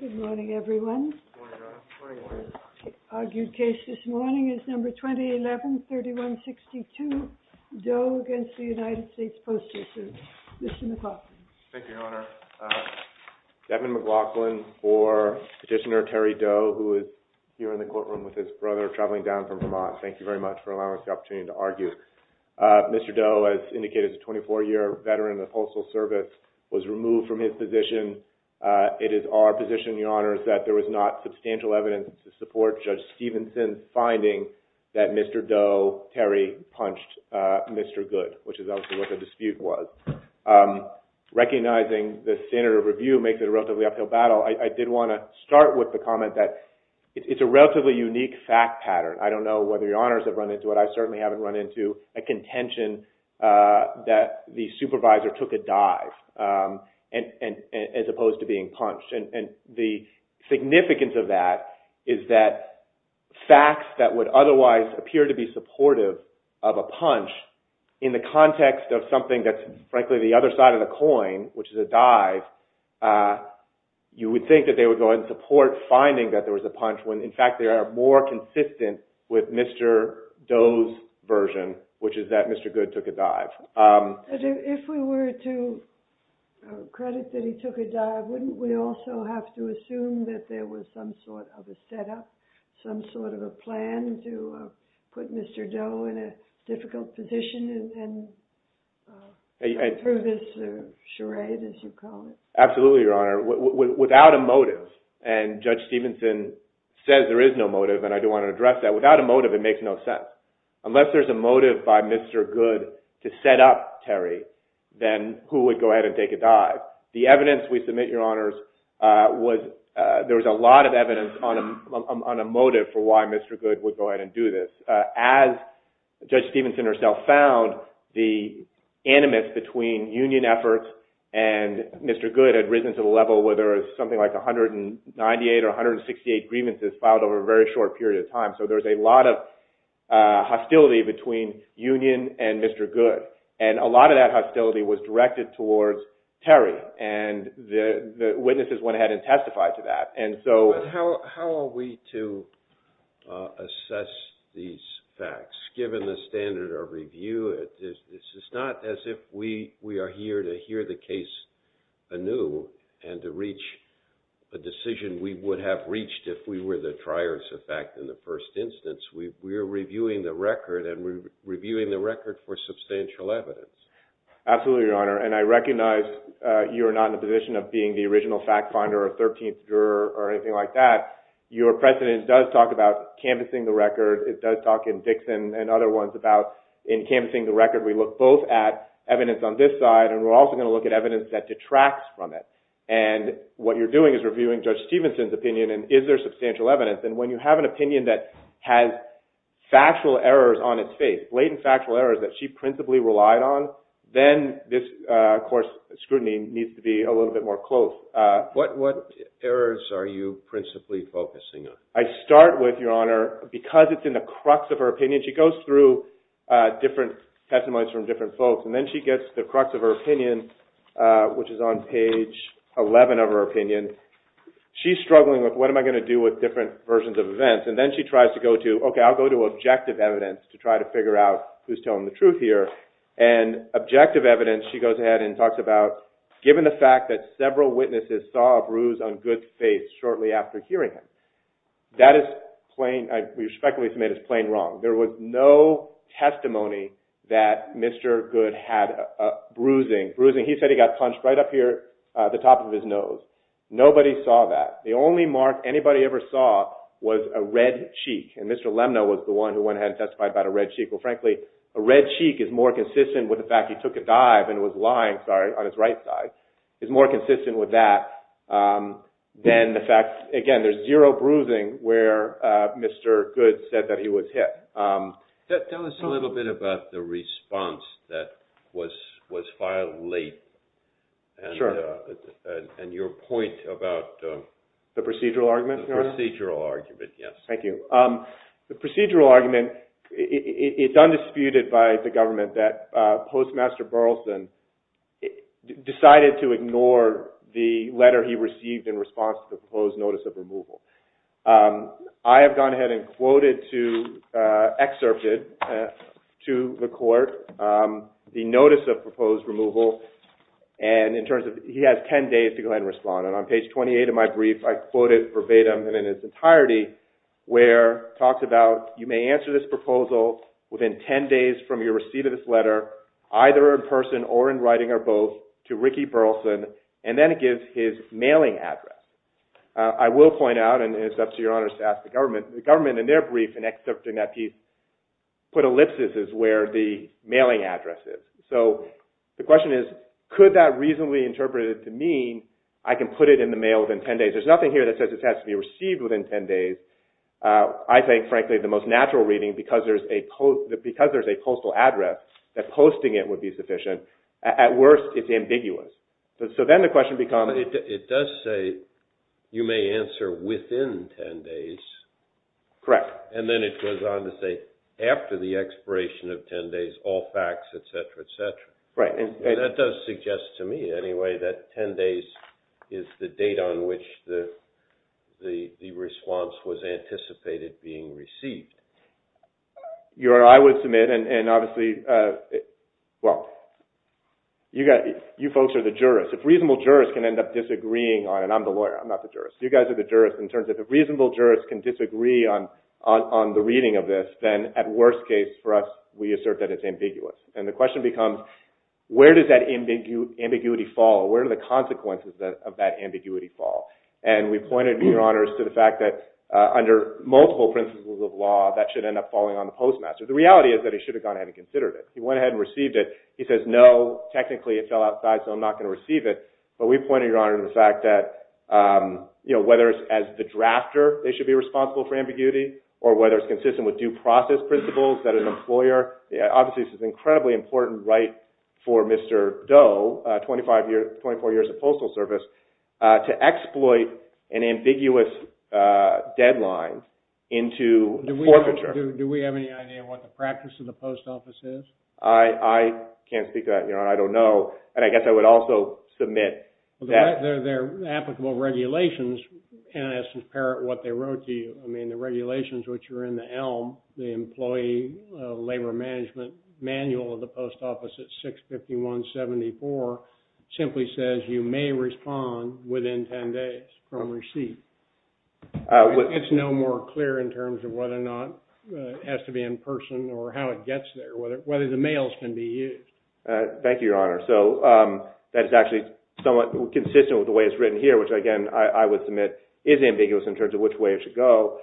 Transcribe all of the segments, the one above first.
Good morning everyone, argued case this morning is number 2011-3162, Doe against the United States Postal Service, Mr. McLaughlin. Thank you, Your Honor. Devin McLaughlin for Petitioner Terry Doe, who is here in the courtroom with his brother traveling down from Vermont. Mr. Doe, as indicated, is a 24-year veteran of the Postal Service, was removed from his position. It is our position, Your Honors, that there was not substantial evidence to support Judge Stevenson's finding that Mr. Doe, Terry, punched Mr. Goode, which is obviously what the dispute was. Recognizing the standard of review makes it a relatively uphill battle, I did want to start with the comment that it's a relatively unique fact pattern. I don't know whether Your Honors have run into it, I certainly haven't run into a contention that the supervisor took a dive as opposed to being punched. And the significance of that is that facts that would otherwise appear to be supportive of a punch in the context of something that's frankly the other side of the coin, which is a dive, you would think that they would go and support finding that there was a punch when in fact they are more consistent with Mr. Doe's version, which is that Mr. Goode took a dive. If we were to credit that he took a dive, wouldn't we also have to assume that there was some sort of a setup, some sort of a plan to put Mr. Doe in a difficult position and prove his charade, as you call it? Absolutely, Your Honor. Without a motive, and Judge Stevenson says there is no motive and I do want to address that, without a motive it makes no sense. Unless there's a motive by Mr. Goode to set up Terry, then who would go ahead and take a dive? The evidence we submit, Your Honors, there was a lot of evidence on a motive for why Mr. Goode would go ahead and do this. As Judge Stevenson herself found, the animus between union efforts and Mr. Goode had risen to the level where there was something like 198 or 168 grievances filed over a very short period of time. So there was a lot of hostility between union and Mr. Goode. A lot of that hostility was directed towards Terry and the witnesses went ahead and testified to that. But how are we to assess these facts? Given the standard of review, this is not as if we are here to hear the case anew and to reach a decision we would have reached if we were the triers of fact in the first instance. We're reviewing the record and we're reviewing the record for substantial evidence. Absolutely, Your Honor, and I recognize you are not in a position of being the original fact finder or 13th juror or anything like that. Your precedent does talk about canvassing the record. It does talk in Dixon and other ones about, in canvassing the record, we look both at evidence on this side and we're also going to look at evidence that detracts from it. And what you're doing is reviewing Judge Stevenson's opinion and is there substantial evidence. And when you have an opinion that has factual errors on its face, blatant factual errors that she principally relied on, then this, of course, scrutiny needs to be a little bit more close. What errors are you principally focusing on? I start with, Your Honor, because it's in the crux of her opinion, she goes through different testimonies from different folks and then she gets to the crux of her opinion, which is on page 11 of her opinion. She's struggling with what am I going to do with different versions of events. And then she tries to go to, okay, I'll go to objective evidence to try to figure out who's telling the truth here. And objective evidence, she goes ahead and talks about, given the fact that several witnesses saw a bruise on Goode's face shortly after hearing him. That is plain, I respectfully submit, is plain wrong. There was no testimony that Mr. Goode had a bruising. Bruising, he said he got punched right up here at the top of his nose. Nobody saw that. The only mark anybody ever saw was a red cheek. And Mr. Lemna was the one who went ahead and testified about a red cheek. Well, frankly, a red cheek is more consistent with the fact he took a dive and was lying, sorry, on his right side. It's more consistent with that than the fact, again, there's zero bruising where Mr. Goode said that he was hit. Tell us a little bit about the response that was filed late and your point about... The procedural argument, Your Honor? The procedural argument, yes. Thank you. The procedural argument, it's undisputed by the government that Postmaster Burleson decided to ignore the letter he received in response to the proposed notice of removal. I have gone ahead and quoted to, excerpted to the court the notice of proposed removal. And in terms of, he has 10 days to go ahead and respond. And on page 28 of my brief, I quoted verbatim and in its entirety where it talks about, you may answer this proposal within 10 days from your receipt of this letter, either in person or in writing or both, to Ricky Burleson. And then it gives his mailing address. I will point out, and it's up to Your Honor to ask the government, the government in their brief and excerpting that piece put ellipses as where the mailing address is. So the question is, could that reasonably interpret it to mean I can put it in the mail within 10 days? There's nothing here that says it has to be received within 10 days. I think, frankly, the most natural reading, because there's a postal address, that posting it would be sufficient. At worst, it's ambiguous. So then the question becomes... It does say, you may answer within 10 days. Correct. And then it goes on to say, after the expiration of 10 days, all facts, et cetera, et cetera. That does suggest to me, anyway, that 10 days is the date on which the response was anticipated being received. Your Honor, I would submit, and obviously, well, you folks are the jurists. If reasonable jurists can end up disagreeing on it, and I'm the lawyer, I'm not the jurist. You guys are the jurists. In terms of if reasonable jurists can disagree on the reading of this, then at worst case for us, we assert that it's ambiguous. And the question becomes, where does that ambiguity fall? Where do the consequences of that ambiguity fall? And we pointed, Your Honor, to the fact that under multiple principles of law, that should end up falling on the postmaster. The reality is that he should have gone ahead and considered it. He went ahead and received it. He says, no, technically it fell outside, so I'm not going to receive it. But we pointed, Your Honor, to the fact that, you know, whether it's as the drafter they should be responsible for ambiguity or whether it's consistent with due process principles that an employer – obviously, this is an incredibly important right for Mr. Doe, 24 years of postal service, to exploit an ambiguous deadline into forfeiture. Do we have any idea what the practice of the post office is? I can't speak to that, Your Honor. I don't know. And I guess I would also submit that – They're applicable regulations, and I think it's apparent what they wrote to you. I mean, the regulations which are in the ELM, the Employee Labor Management Manual of the Post Office at 65174, simply says you may respond within 10 days from receipt. It's no more clear in terms of whether or not it has to be in person or how it gets there, whether the mails can be used. Thank you, Your Honor. So that is actually somewhat consistent with the way it's written here, which, again, I would submit is ambiguous in terms of which way it should go.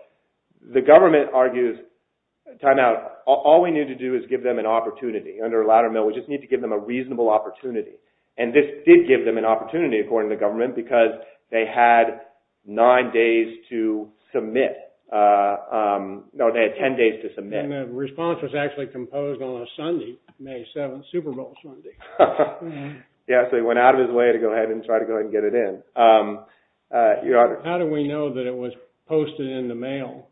The government argues – time out. All we need to do is give them an opportunity. Under a ladder mail, we just need to give them a reasonable opportunity. And this did give them an opportunity, according to the government, because they had nine days to submit – no, they had 10 days to submit. And the response was actually composed on a Sunday, May 7th, Super Bowl Sunday. Yeah, so he went out of his way to go ahead and try to go ahead and get it in. Your Honor. How do we know that it was posted in the mail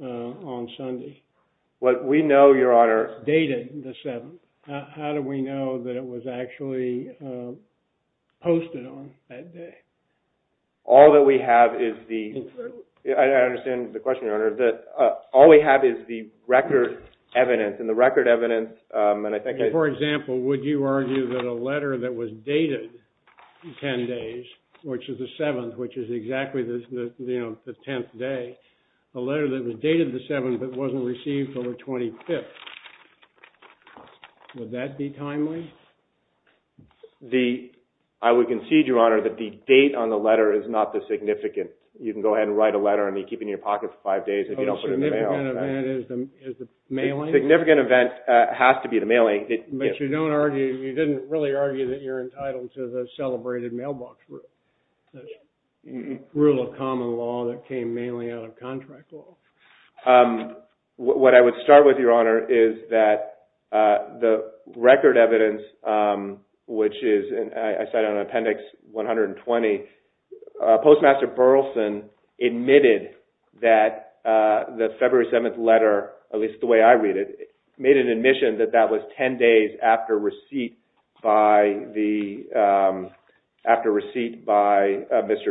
on Sunday? We know, Your Honor – Dated the 7th. How do we know that it was actually posted on that day? All that we have is the – I understand the question, Your Honor. All we have is the record evidence, and the record evidence – For example, would you argue that a letter that was dated 10 days, which is the 7th, which is exactly the 10th day, a letter that was dated the 7th but wasn't received until the 25th, would that be timely? I would concede, Your Honor, that the date on the letter is not this significant. You can go ahead and write a letter and keep it in your pocket for five days if you don't put it in the mail. So the significant event is the mailing? The significant event has to be the mailing. But you don't argue – you didn't really argue that you're entitled to the celebrated mailbox rule, the rule of common law that came mainly out of contract law. What I would start with, Your Honor, is that the record evidence, which is – Postmaster Burleson admitted that the February 7th letter, at least the way I read it, made an admission that that was 10 days after receipt by Mr.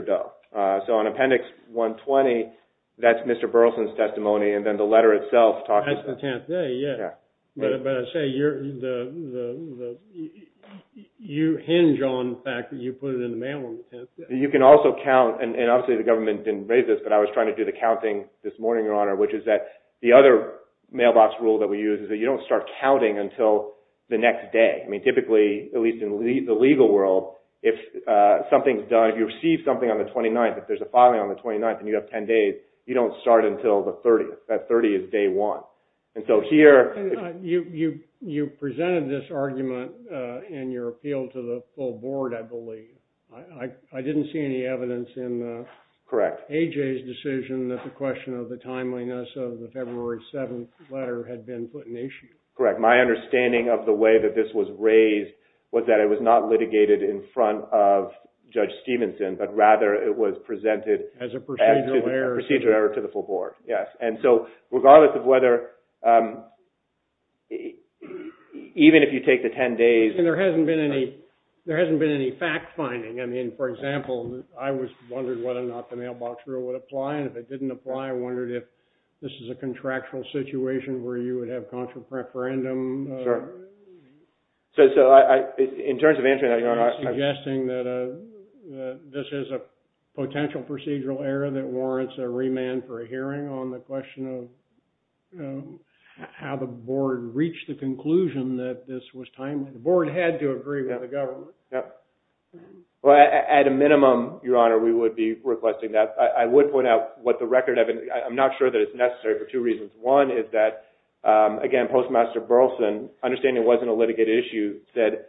Doe. So on Appendix 120, that's Mr. Burleson's testimony, and then the letter itself talks about – That's the 10th day, yeah. But I say you hinge on the fact that you put it in the mail on the 10th day. You can also count – and obviously the government didn't raise this, but I was trying to do the counting this morning, Your Honor, which is that the other mailbox rule that we use is that you don't start counting until the next day. I mean, typically, at least in the legal world, if something's done – if you receive something on the 29th, if there's a filing on the 29th and you have 10 days, you don't start until the 30th. That 30th is day one. And so here – You presented this argument in your appeal to the full board, I believe. I didn't see any evidence in A.J.'s decision that the question of the timeliness of the February 7th letter had been put in issue. Correct. My understanding of the way that this was raised was that it was not litigated in front of Judge Stevenson, but rather it was presented as a procedural error to the full board, yes. And so regardless of whether – even if you take the 10 days – And there hasn't been any – there hasn't been any fact-finding. I mean, for example, I was wondering whether or not the mailbox rule would apply, and if it didn't apply, I wondered if this is a contractual situation where you would have contra-preferendum – Sure. So in terms of answering that, Your Honor – Suggesting that this is a potential procedural error that warrants a remand for a hearing on the question of how the board reached the conclusion that this was timely. The board had to agree with the government. Well, at a minimum, Your Honor, we would be requesting that. I would point out what the record – I'm not sure that it's necessary for two reasons. One is that, again, Postmaster Burleson, understanding it wasn't a litigated issue, said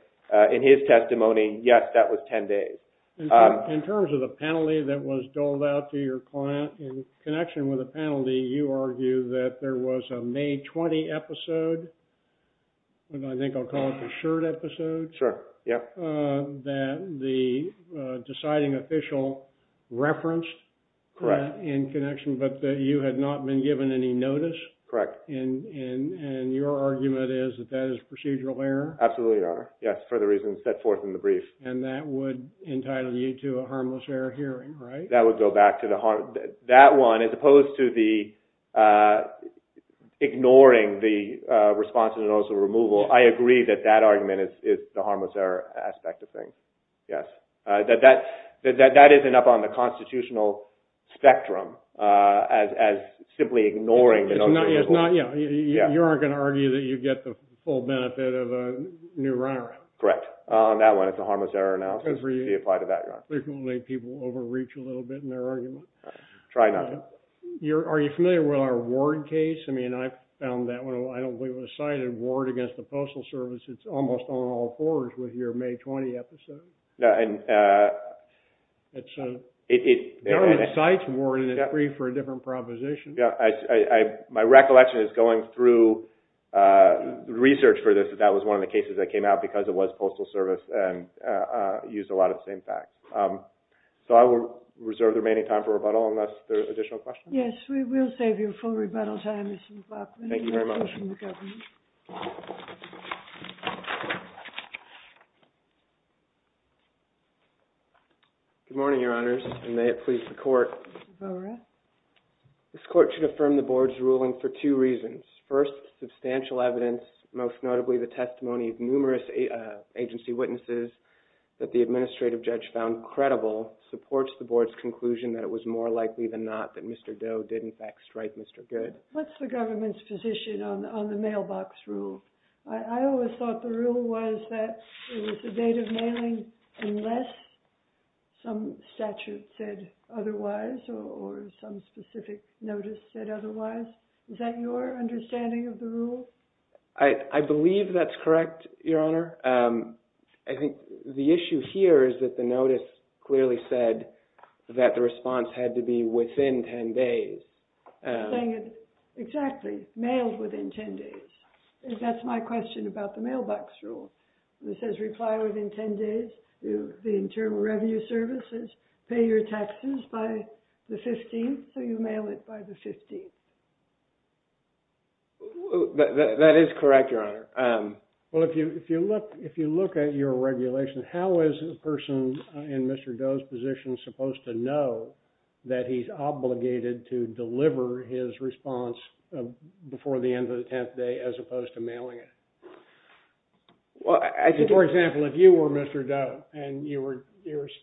in his testimony, yes, that was 10 days. In terms of the penalty that was doled out to your client, in connection with the penalty, you argue that there was a May 20 episode – I think I'll call it the shirt episode – Sure, yeah. That the deciding official referenced in connection, but that you had not been given any notice. Correct. And your argument is that that is a procedural error? Absolutely, Your Honor. Yes, for the reasons set forth in the brief. And that would entitle you to a harmless error hearing, right? That would go back to the – that one, as opposed to the ignoring the response to the notice of removal, I agree that that argument is the harmless error aspect of things, yes. That that isn't up on the constitutional spectrum as simply ignoring the notice of removal. You aren't going to argue that you get the full benefit of a new runaround? Correct. On that one, it's a harmless error analysis. Good for you. You can apply to that, Your Honor. Frequently, people overreach a little bit in their argument. Try not to. Are you familiar with our Ward case? I mean, I found that one – I don't believe it was cited – Ward against the Postal Service. It's almost on all fours with your May 20 episode. No, and – It's – there are sites, Ward, in the brief for a different proposition. My recollection is, going through research for this, that that was one of the cases that came out because it was Postal Service and used a lot of the same facts. So I will reserve the remaining time for rebuttal unless there are additional questions. Yes, we will save you full rebuttal time, Mr. McLaughlin. Thank you very much. Good morning, Your Honors, and may it please the Court – Mr. Borah. This Court should affirm the Board's ruling for two reasons. First, substantial evidence, most notably the testimony of numerous agency witnesses that the administrative judge found credible, supports the Board's conclusion that it was more likely than not that Mr. Doe did, in fact, strike Mr. Good. What's the government's position on the mailbox rule? I always thought the rule was that it was the date of mailing unless some statute said otherwise or some specific notice said otherwise. Is that your understanding of the rule? I believe that's correct, Your Honor. I think the issue here is that the notice clearly said that the response had to be within 10 days. Exactly, mailed within 10 days. That's my question about the mailbox rule. It says reply within 10 days. The Internal Revenue Service says pay your taxes by the 15th, so you mail it by the 15th. That is correct, Your Honor. Well, if you look at your regulation, how is a person in Mr. Doe's position supposed to know that he's obligated to deliver his response before the end of the 10th day as opposed to mailing it? For example, if you were Mr. Doe and you were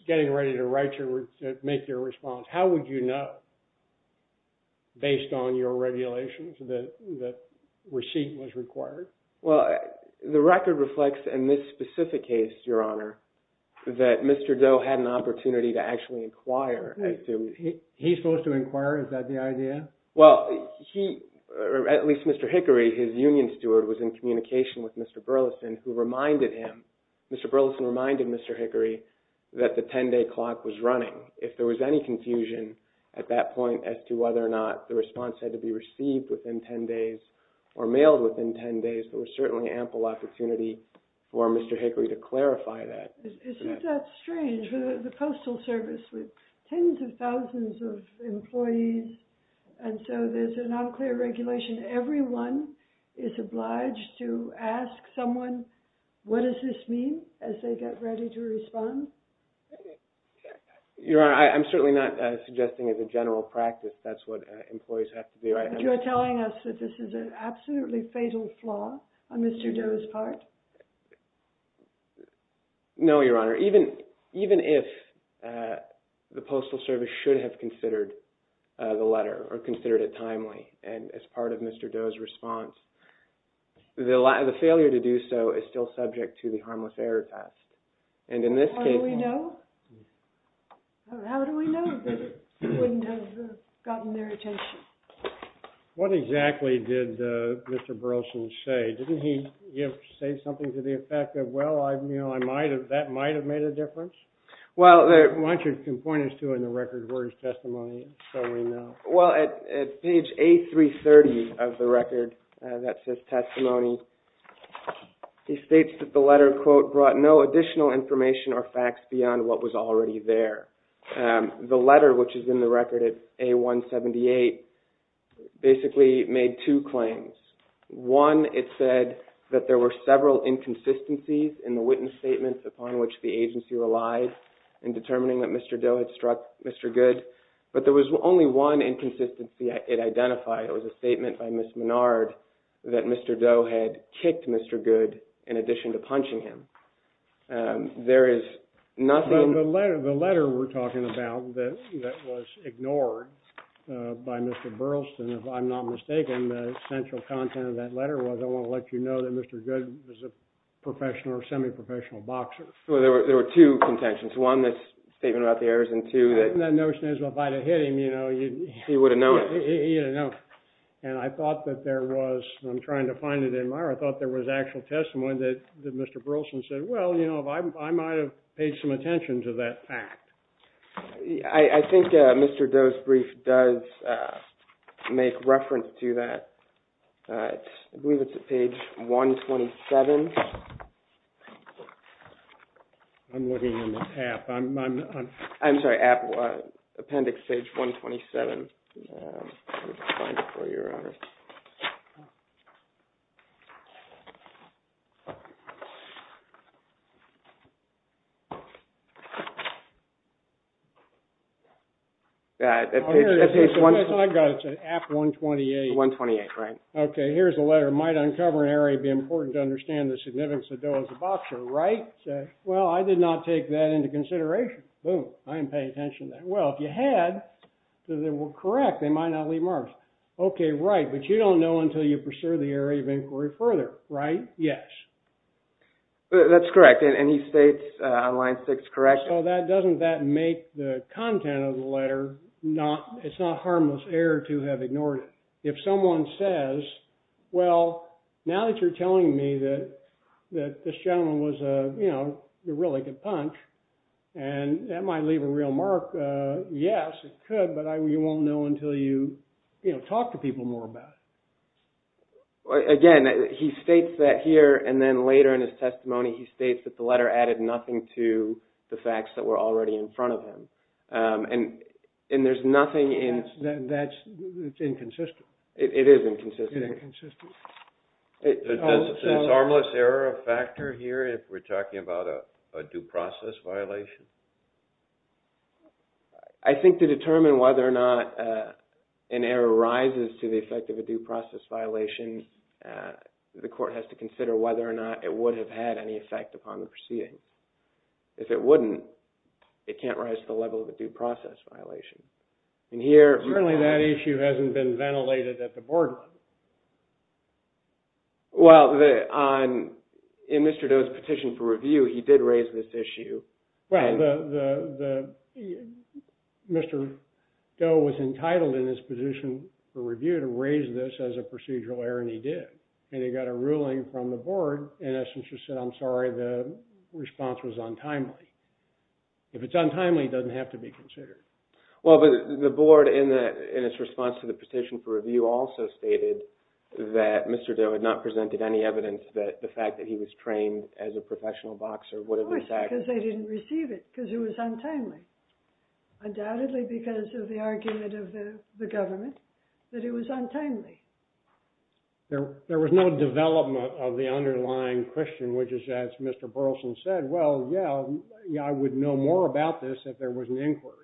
getting ready to make your response, how would you know based on your regulations that receipt was required? Well, the record reflects in this specific case, Your Honor, that Mr. Doe had an opportunity to actually inquire. He's supposed to inquire? Is that the idea? Well, at least Mr. Hickory, his union steward, was in communication with Mr. Burleson who reminded him, Mr. Burleson reminded Mr. Hickory that the 10-day clock was running. If there was any confusion at that point as to whether or not the response had to be received within 10 days or mailed within 10 days, there was certainly ample opportunity for Mr. Hickory to clarify that. Is it that strange for the Postal Service with tens of thousands of employees and so there's a non-clear regulation, everyone is obliged to ask someone, what does this mean as they get ready to respond? Your Honor, I'm certainly not suggesting as a general practice that's what employees have to do. But you're telling us that this is an absolutely fatal flaw on Mr. Doe's part? No, Your Honor. Even if the Postal Service should have considered the letter or considered it timely and as part of Mr. Doe's response, the failure to do so is still subject to the harmless error test. How do we know? How do we know that it wouldn't have gotten their attention? What exactly did Mr. Burleson say? Didn't he say something to the effect of, well, that might have made a difference? Why don't you point us to it in the record of words testimony so we know? Well, at page A330 of the record that says testimony, he states that the letter, quote, brought no additional information or facts beyond what was already there. The letter, which is in the record at A178, basically made two claims. One, it said that there were several inconsistencies in the witness statements upon which the agency relied in determining that Mr. Doe had struck Mr. Goode. But there was only one inconsistency it identified. It was a statement by Ms. Menard that Mr. Doe had kicked Mr. Goode in addition to punching him. There is nothing... But the letter we're talking about that was ignored by Mr. Burleson, if I'm not mistaken, the central content of that letter was, I want to let you know that Mr. Goode was a professional or semi-professional boxer. Well, there were two contentions. One, this statement about the errors, and two, that... That notion is, well, if I'd have hit him, you know, you'd... He would have known it. He would have known it. And I thought that there was, I'm trying to find it in my... I thought there was actual testimony that Mr. Burleson said, well, you know, I might have paid some attention to that fact. I think Mr. Doe's brief does make reference to that. I believe it's at page 127. I'm looking in the app. I'm sorry, appendix page 127. Let me find it for you, Your Honor. At page... I've got it. It's at app 128. 128, right. Okay. Here's the letter. It might uncover an error. It would be important to understand the significance of Doe as a boxer, right? Well, I did not take that into consideration. Boom. I didn't pay attention to that. Well, if you had, they were correct. They might not leave marks. Okay, right. But you don't know until you pursue the area of inquiry further, right? Yes. That's correct. And he states on line six, correct? So that doesn't... That make the content of the letter not... It's not harmless error to have ignored it. If someone says, well, now that you're telling me that this gentleman was a, you know, he didn't leave a real mark, yes, it could, but you won't know until you, you know, talk to people more about it. Again, he states that here, and then later in his testimony, he states that the letter added nothing to the facts that were already in front of him. And there's nothing in... That's inconsistent. It is inconsistent. It's inconsistent. Is harmless error a factor here if we're talking about a due process violation? I think to determine whether or not an error rises to the effect of a due process violation, the court has to consider whether or not it would have had any effect upon the proceeding. If it wouldn't, it can't rise to the level of a due process violation. Certainly that issue hasn't been ventilated at the board level. Well, in Mr. Doe's petition for review, he did raise this issue. Well, Mr. Doe was entitled in his position for review to raise this as a procedural error, and he did. And he got a ruling from the board, and essentially said, I'm sorry, the response was untimely. If it's untimely, it doesn't have to be considered. Well, but the board in its response to the petition for review also stated that Mr. Doe had not presented any evidence that the fact that he was trained as a professional boxer would have... Of course, because they didn't receive it, because it was untimely. Undoubtedly because of the argument of the government that it was untimely. There was no development of the underlying question, which is, as Mr. Burleson said, well, yeah, I would know more about this if there was an inquiry.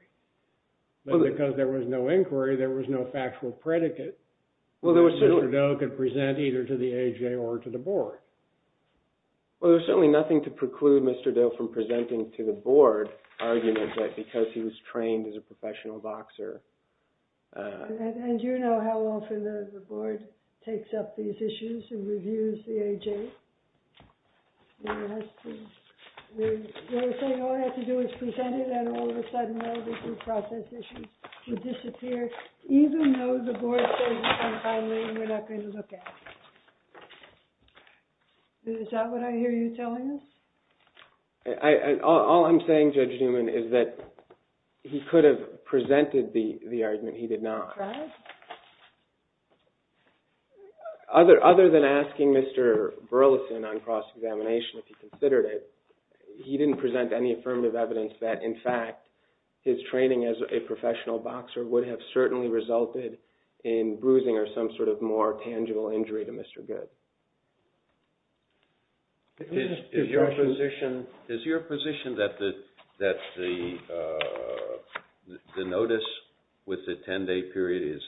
But because there was no inquiry, there was no factual predicate that Mr. Doe could present either to the AJ or to the board. Well, there's certainly nothing to preclude Mr. Doe from presenting to the board arguments that because he was trained as a professional boxer... And do you know how often the board takes up these issues and reviews the AJ? They're saying all I have to do is present it, and all of a sudden all the due process issues will disappear, even though the board says it's untimely and we're not going to look at it. Is that what I hear you telling us? All I'm saying, Judge Newman, is that he could have presented the argument. He did not. Right. Other than asking Mr. Burleson on cross-examination if he considered it, he didn't present any affirmative evidence that, in fact, his training as a professional boxer would have certainly resulted in bruising or some sort of more tangible injury to Mr. Goode. Is your position that the notice with the 10-day period is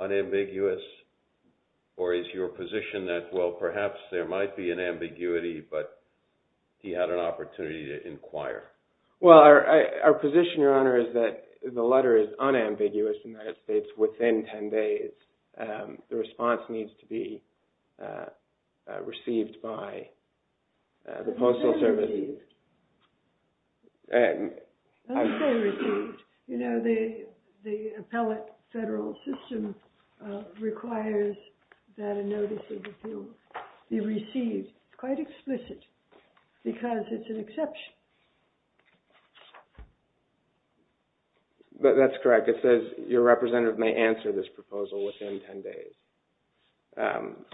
unambiguous, or is your position that, well, perhaps there might be an ambiguity, but he had an opportunity to inquire? Well, our position, Your Honor, is that the letter is unambiguous and that it's within 10 days. The response needs to be received by the Postal Service. It's not received. Don't say received. You know, the appellate federal system requires that a notice of appeal be received, quite explicit, because it's an exception. That's correct. It says your representative may answer this proposal within 10 days.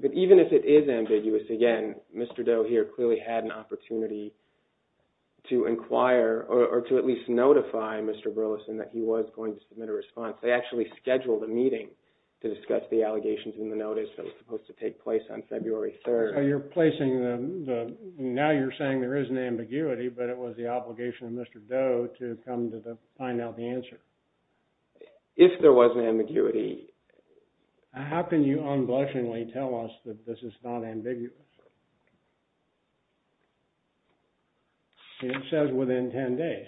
But even if it is ambiguous, again, Mr. Doe here clearly had an opportunity to inquire or to at least notify Mr. Burleson that he was going to submit a response. They actually scheduled a meeting to discuss the allegations in the notice that was supposed to take place on February 3rd. So you're placing the – now you're saying there is an ambiguity, but it was the obligation of Mr. Doe to come to find out the answer. If there was an ambiguity. How can you unblushingly tell us that this is not ambiguous? It says within 10 days,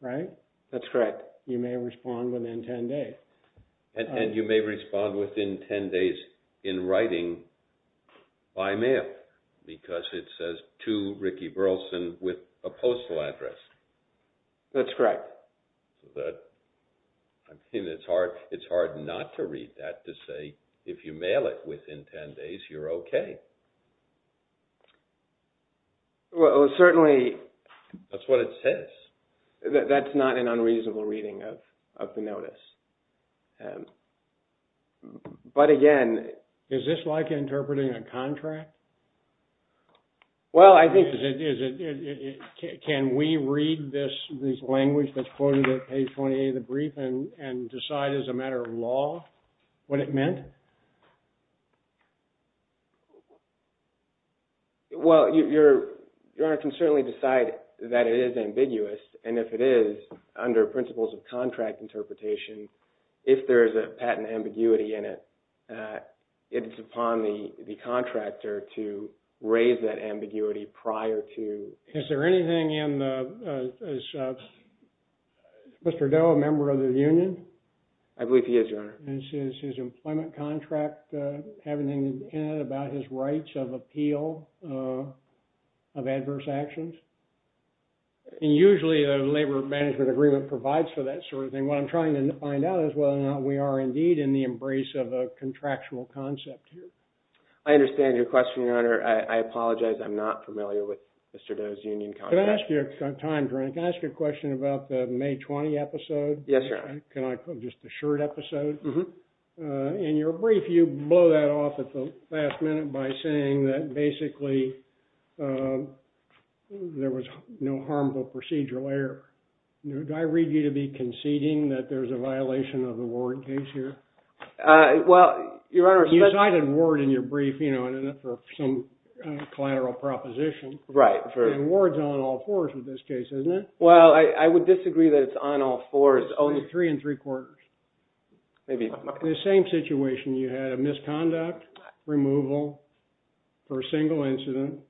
right? That's correct. You may respond within 10 days. And you may respond within 10 days in writing by mail because it says to Ricky Burleson with a postal address. That's correct. I mean, it's hard not to read that to say if you mail it within 10 days, you're okay. Well, certainly. That's what it says. That's not an unreasonable reading of the notice. But, again – Is this like interpreting a contract? Well, I think – Can we read this language that's quoted at page 28 of the brief and decide as a matter of law what it meant? Well, Your Honor, you can certainly decide that it is ambiguous. And if it is, under principles of contract interpretation, if there is a patent ambiguity in it, it's upon the contractor to raise that ambiguity prior to – Is there anything in the – is Mr. Doe a member of the union? I believe he is, Your Honor. Does his employment contract have anything in it about his rights of appeal of adverse actions? And usually a labor management agreement provides for that sort of thing. What I'm trying to find out is whether or not we are indeed in the embrace of a contractual concept here. I understand your question, Your Honor. I apologize. I'm not familiar with Mr. Doe's union contract. Can I ask you a question about the May 20 episode? Yes, Your Honor. Can I – just the shirt episode? Mm-hmm. In your brief, you blow that off at the last minute by saying that basically there was no harmful procedural error. Do I read you to be conceding that there's a violation of the Ward case here? Well, Your Honor – You cited Ward in your brief, you know, for some collateral proposition. Right. And Ward's on all fours with this case, isn't it? Well, I would disagree that it's on all fours. It's only three and three-quarters. Maybe – The same situation. You had a misconduct removal for a single incident.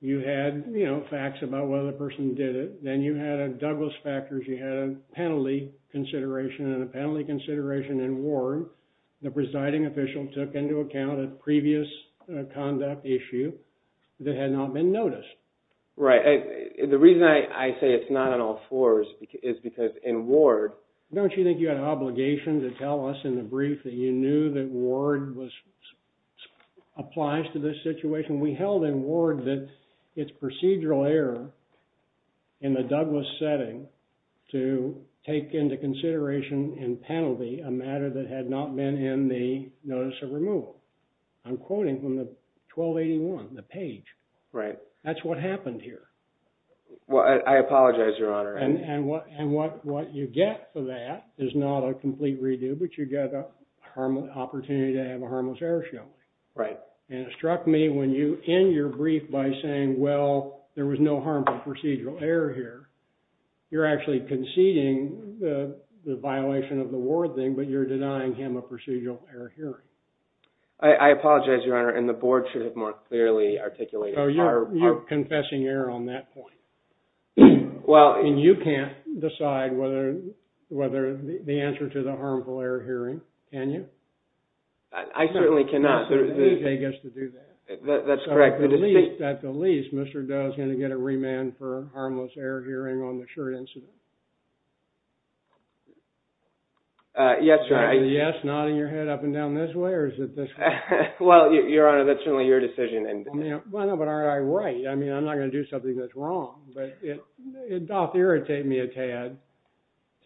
You had, you know, facts about whether the person did it. Then you had a Douglas factors. You had a penalty consideration and a penalty consideration in Ward. The presiding official took into account a previous conduct issue that had not been noticed. Right. The reason I say it's not on all fours is because in Ward – Don't you think you had an obligation to tell us in the brief that you knew that Ward was – applies to this situation? We held in Ward that it's procedural error in the Douglas setting to take into consideration in penalty a matter that had not been in the notice of removal. I'm quoting from the 1281, the page. Right. That's what happened here. Well, I apologize, Your Honor. And what you get for that is not a complete redo, but you get an opportunity to have a harmless error shown. Right. And it struck me when you end your brief by saying, well, there was no harmful procedural error here. You're actually conceding the violation of the Ward thing, but you're denying him a procedural error hearing. I apologize, Your Honor, and the board should have more clearly articulated – Oh, you're confessing error on that point. Well – And you can't decide whether – the answer to the harmful error hearing, can you? I certainly cannot. The D.J. gets to do that. That's correct. At the least, Mr. Doe is going to get a remand for harmless error hearing on the shirt incident. Yes, Your Honor. Is the yes nodding your head up and down this way or is it this way? Well, Your Honor, that's really your decision. Well, no, but aren't I right? I mean, I'm not going to do something that's wrong, but it doth irritate me a tad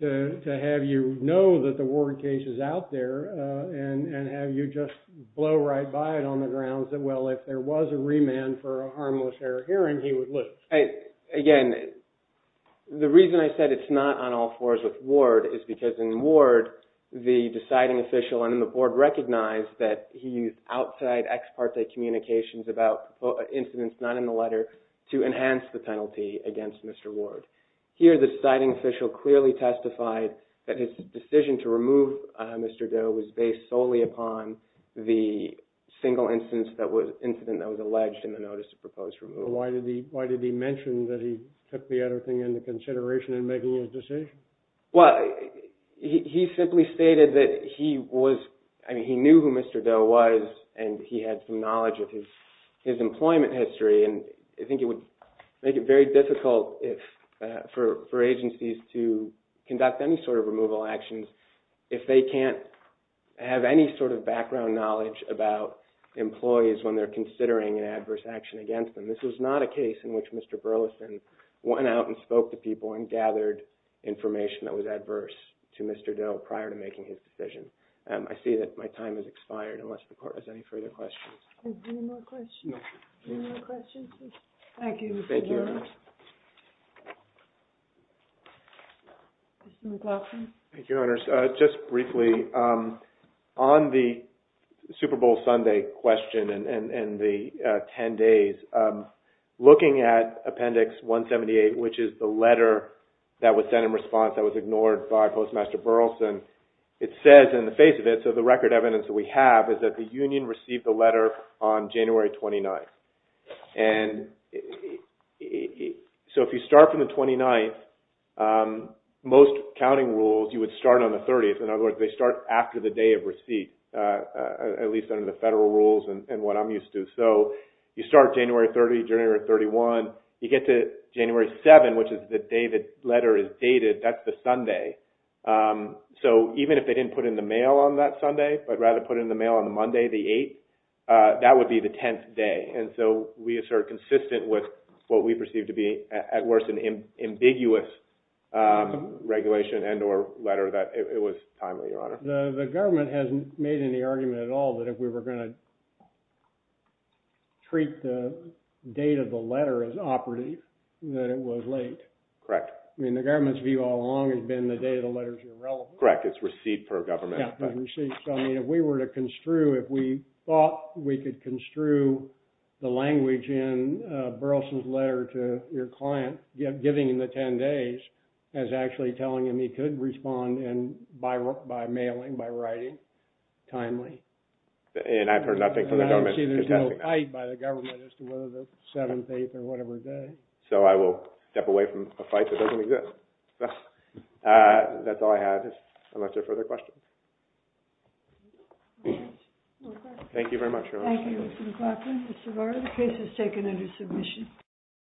to have you know that the Ward case is out there and have you just blow right by it on the grounds that, well, if there was a remand for a harmless error hearing, he would lose. Again, the reason I said it's not on all fours with Ward is because in Ward, the deciding official and the Board recognized that he used outside ex parte communications about incidents not in the letter to enhance the penalty against Mr. Ward. Here, the deciding official clearly testified that his decision to remove Mr. Doe was based solely upon the single incident that was alleged in the notice of proposed removal. Why did he mention that he took the other thing into consideration in making his decision? Well, he simply stated that he knew who Mr. Doe was and he had some knowledge of his employment history and I think it would make it very difficult for agencies to conduct any sort of removal actions if they can't have any sort of background knowledge about employees when they're considering an adverse action against them. And this was not a case in which Mr. Burleson went out and spoke to people and gathered information that was adverse to Mr. Doe prior to making his decision. I see that my time has expired unless the Court has any further questions. Any more questions? No. Any more questions? Thank you. Mr. McLaughlin? Thank you, Your Honors. Just briefly, on the Super Bowl Sunday question and the 10 days, looking at Appendix 178, which is the letter that was sent in response that was ignored by Postmaster Burleson, it says in the face of it, so the record evidence that we have, is that the union received the letter on January 29th. And so if you start from the 29th, most counting rules, you would start on the 30th. In other words, they start after the day of receipt, at least under the federal rules and what I'm used to. So you start January 30th, January 31st, you get to January 7th, which is the day the letter is dated, that's the Sunday. So even if they didn't put in the mail on that Sunday, but rather put in the mail on the Monday, the 8th, that would be the 10th day. And so we assert consistent with what we perceive to be, at worst, an ambiguous regulation and or letter that it was timely, Your Honor. The government hasn't made any argument at all that if we were going to treat the date of the letter as operative, that it was late. Correct. I mean, the government's view all along has been the date of the letter is irrelevant. Correct, it's receipt per government. If we were to construe, if we thought we could construe the language in Burleson's letter to your client, giving him the 10 days, as actually telling him he could respond by mailing, by writing, timely. And I've heard nothing from the government. I don't see there's no fight by the government as to whether the 7th, 8th, or whatever day. So I will step away from a fight that doesn't exist. That's all I have, unless there are further questions. Thank you very much, Your Honor. Thank you, Mr. McLaughlin. Mr. Barr, the case is taken under submission.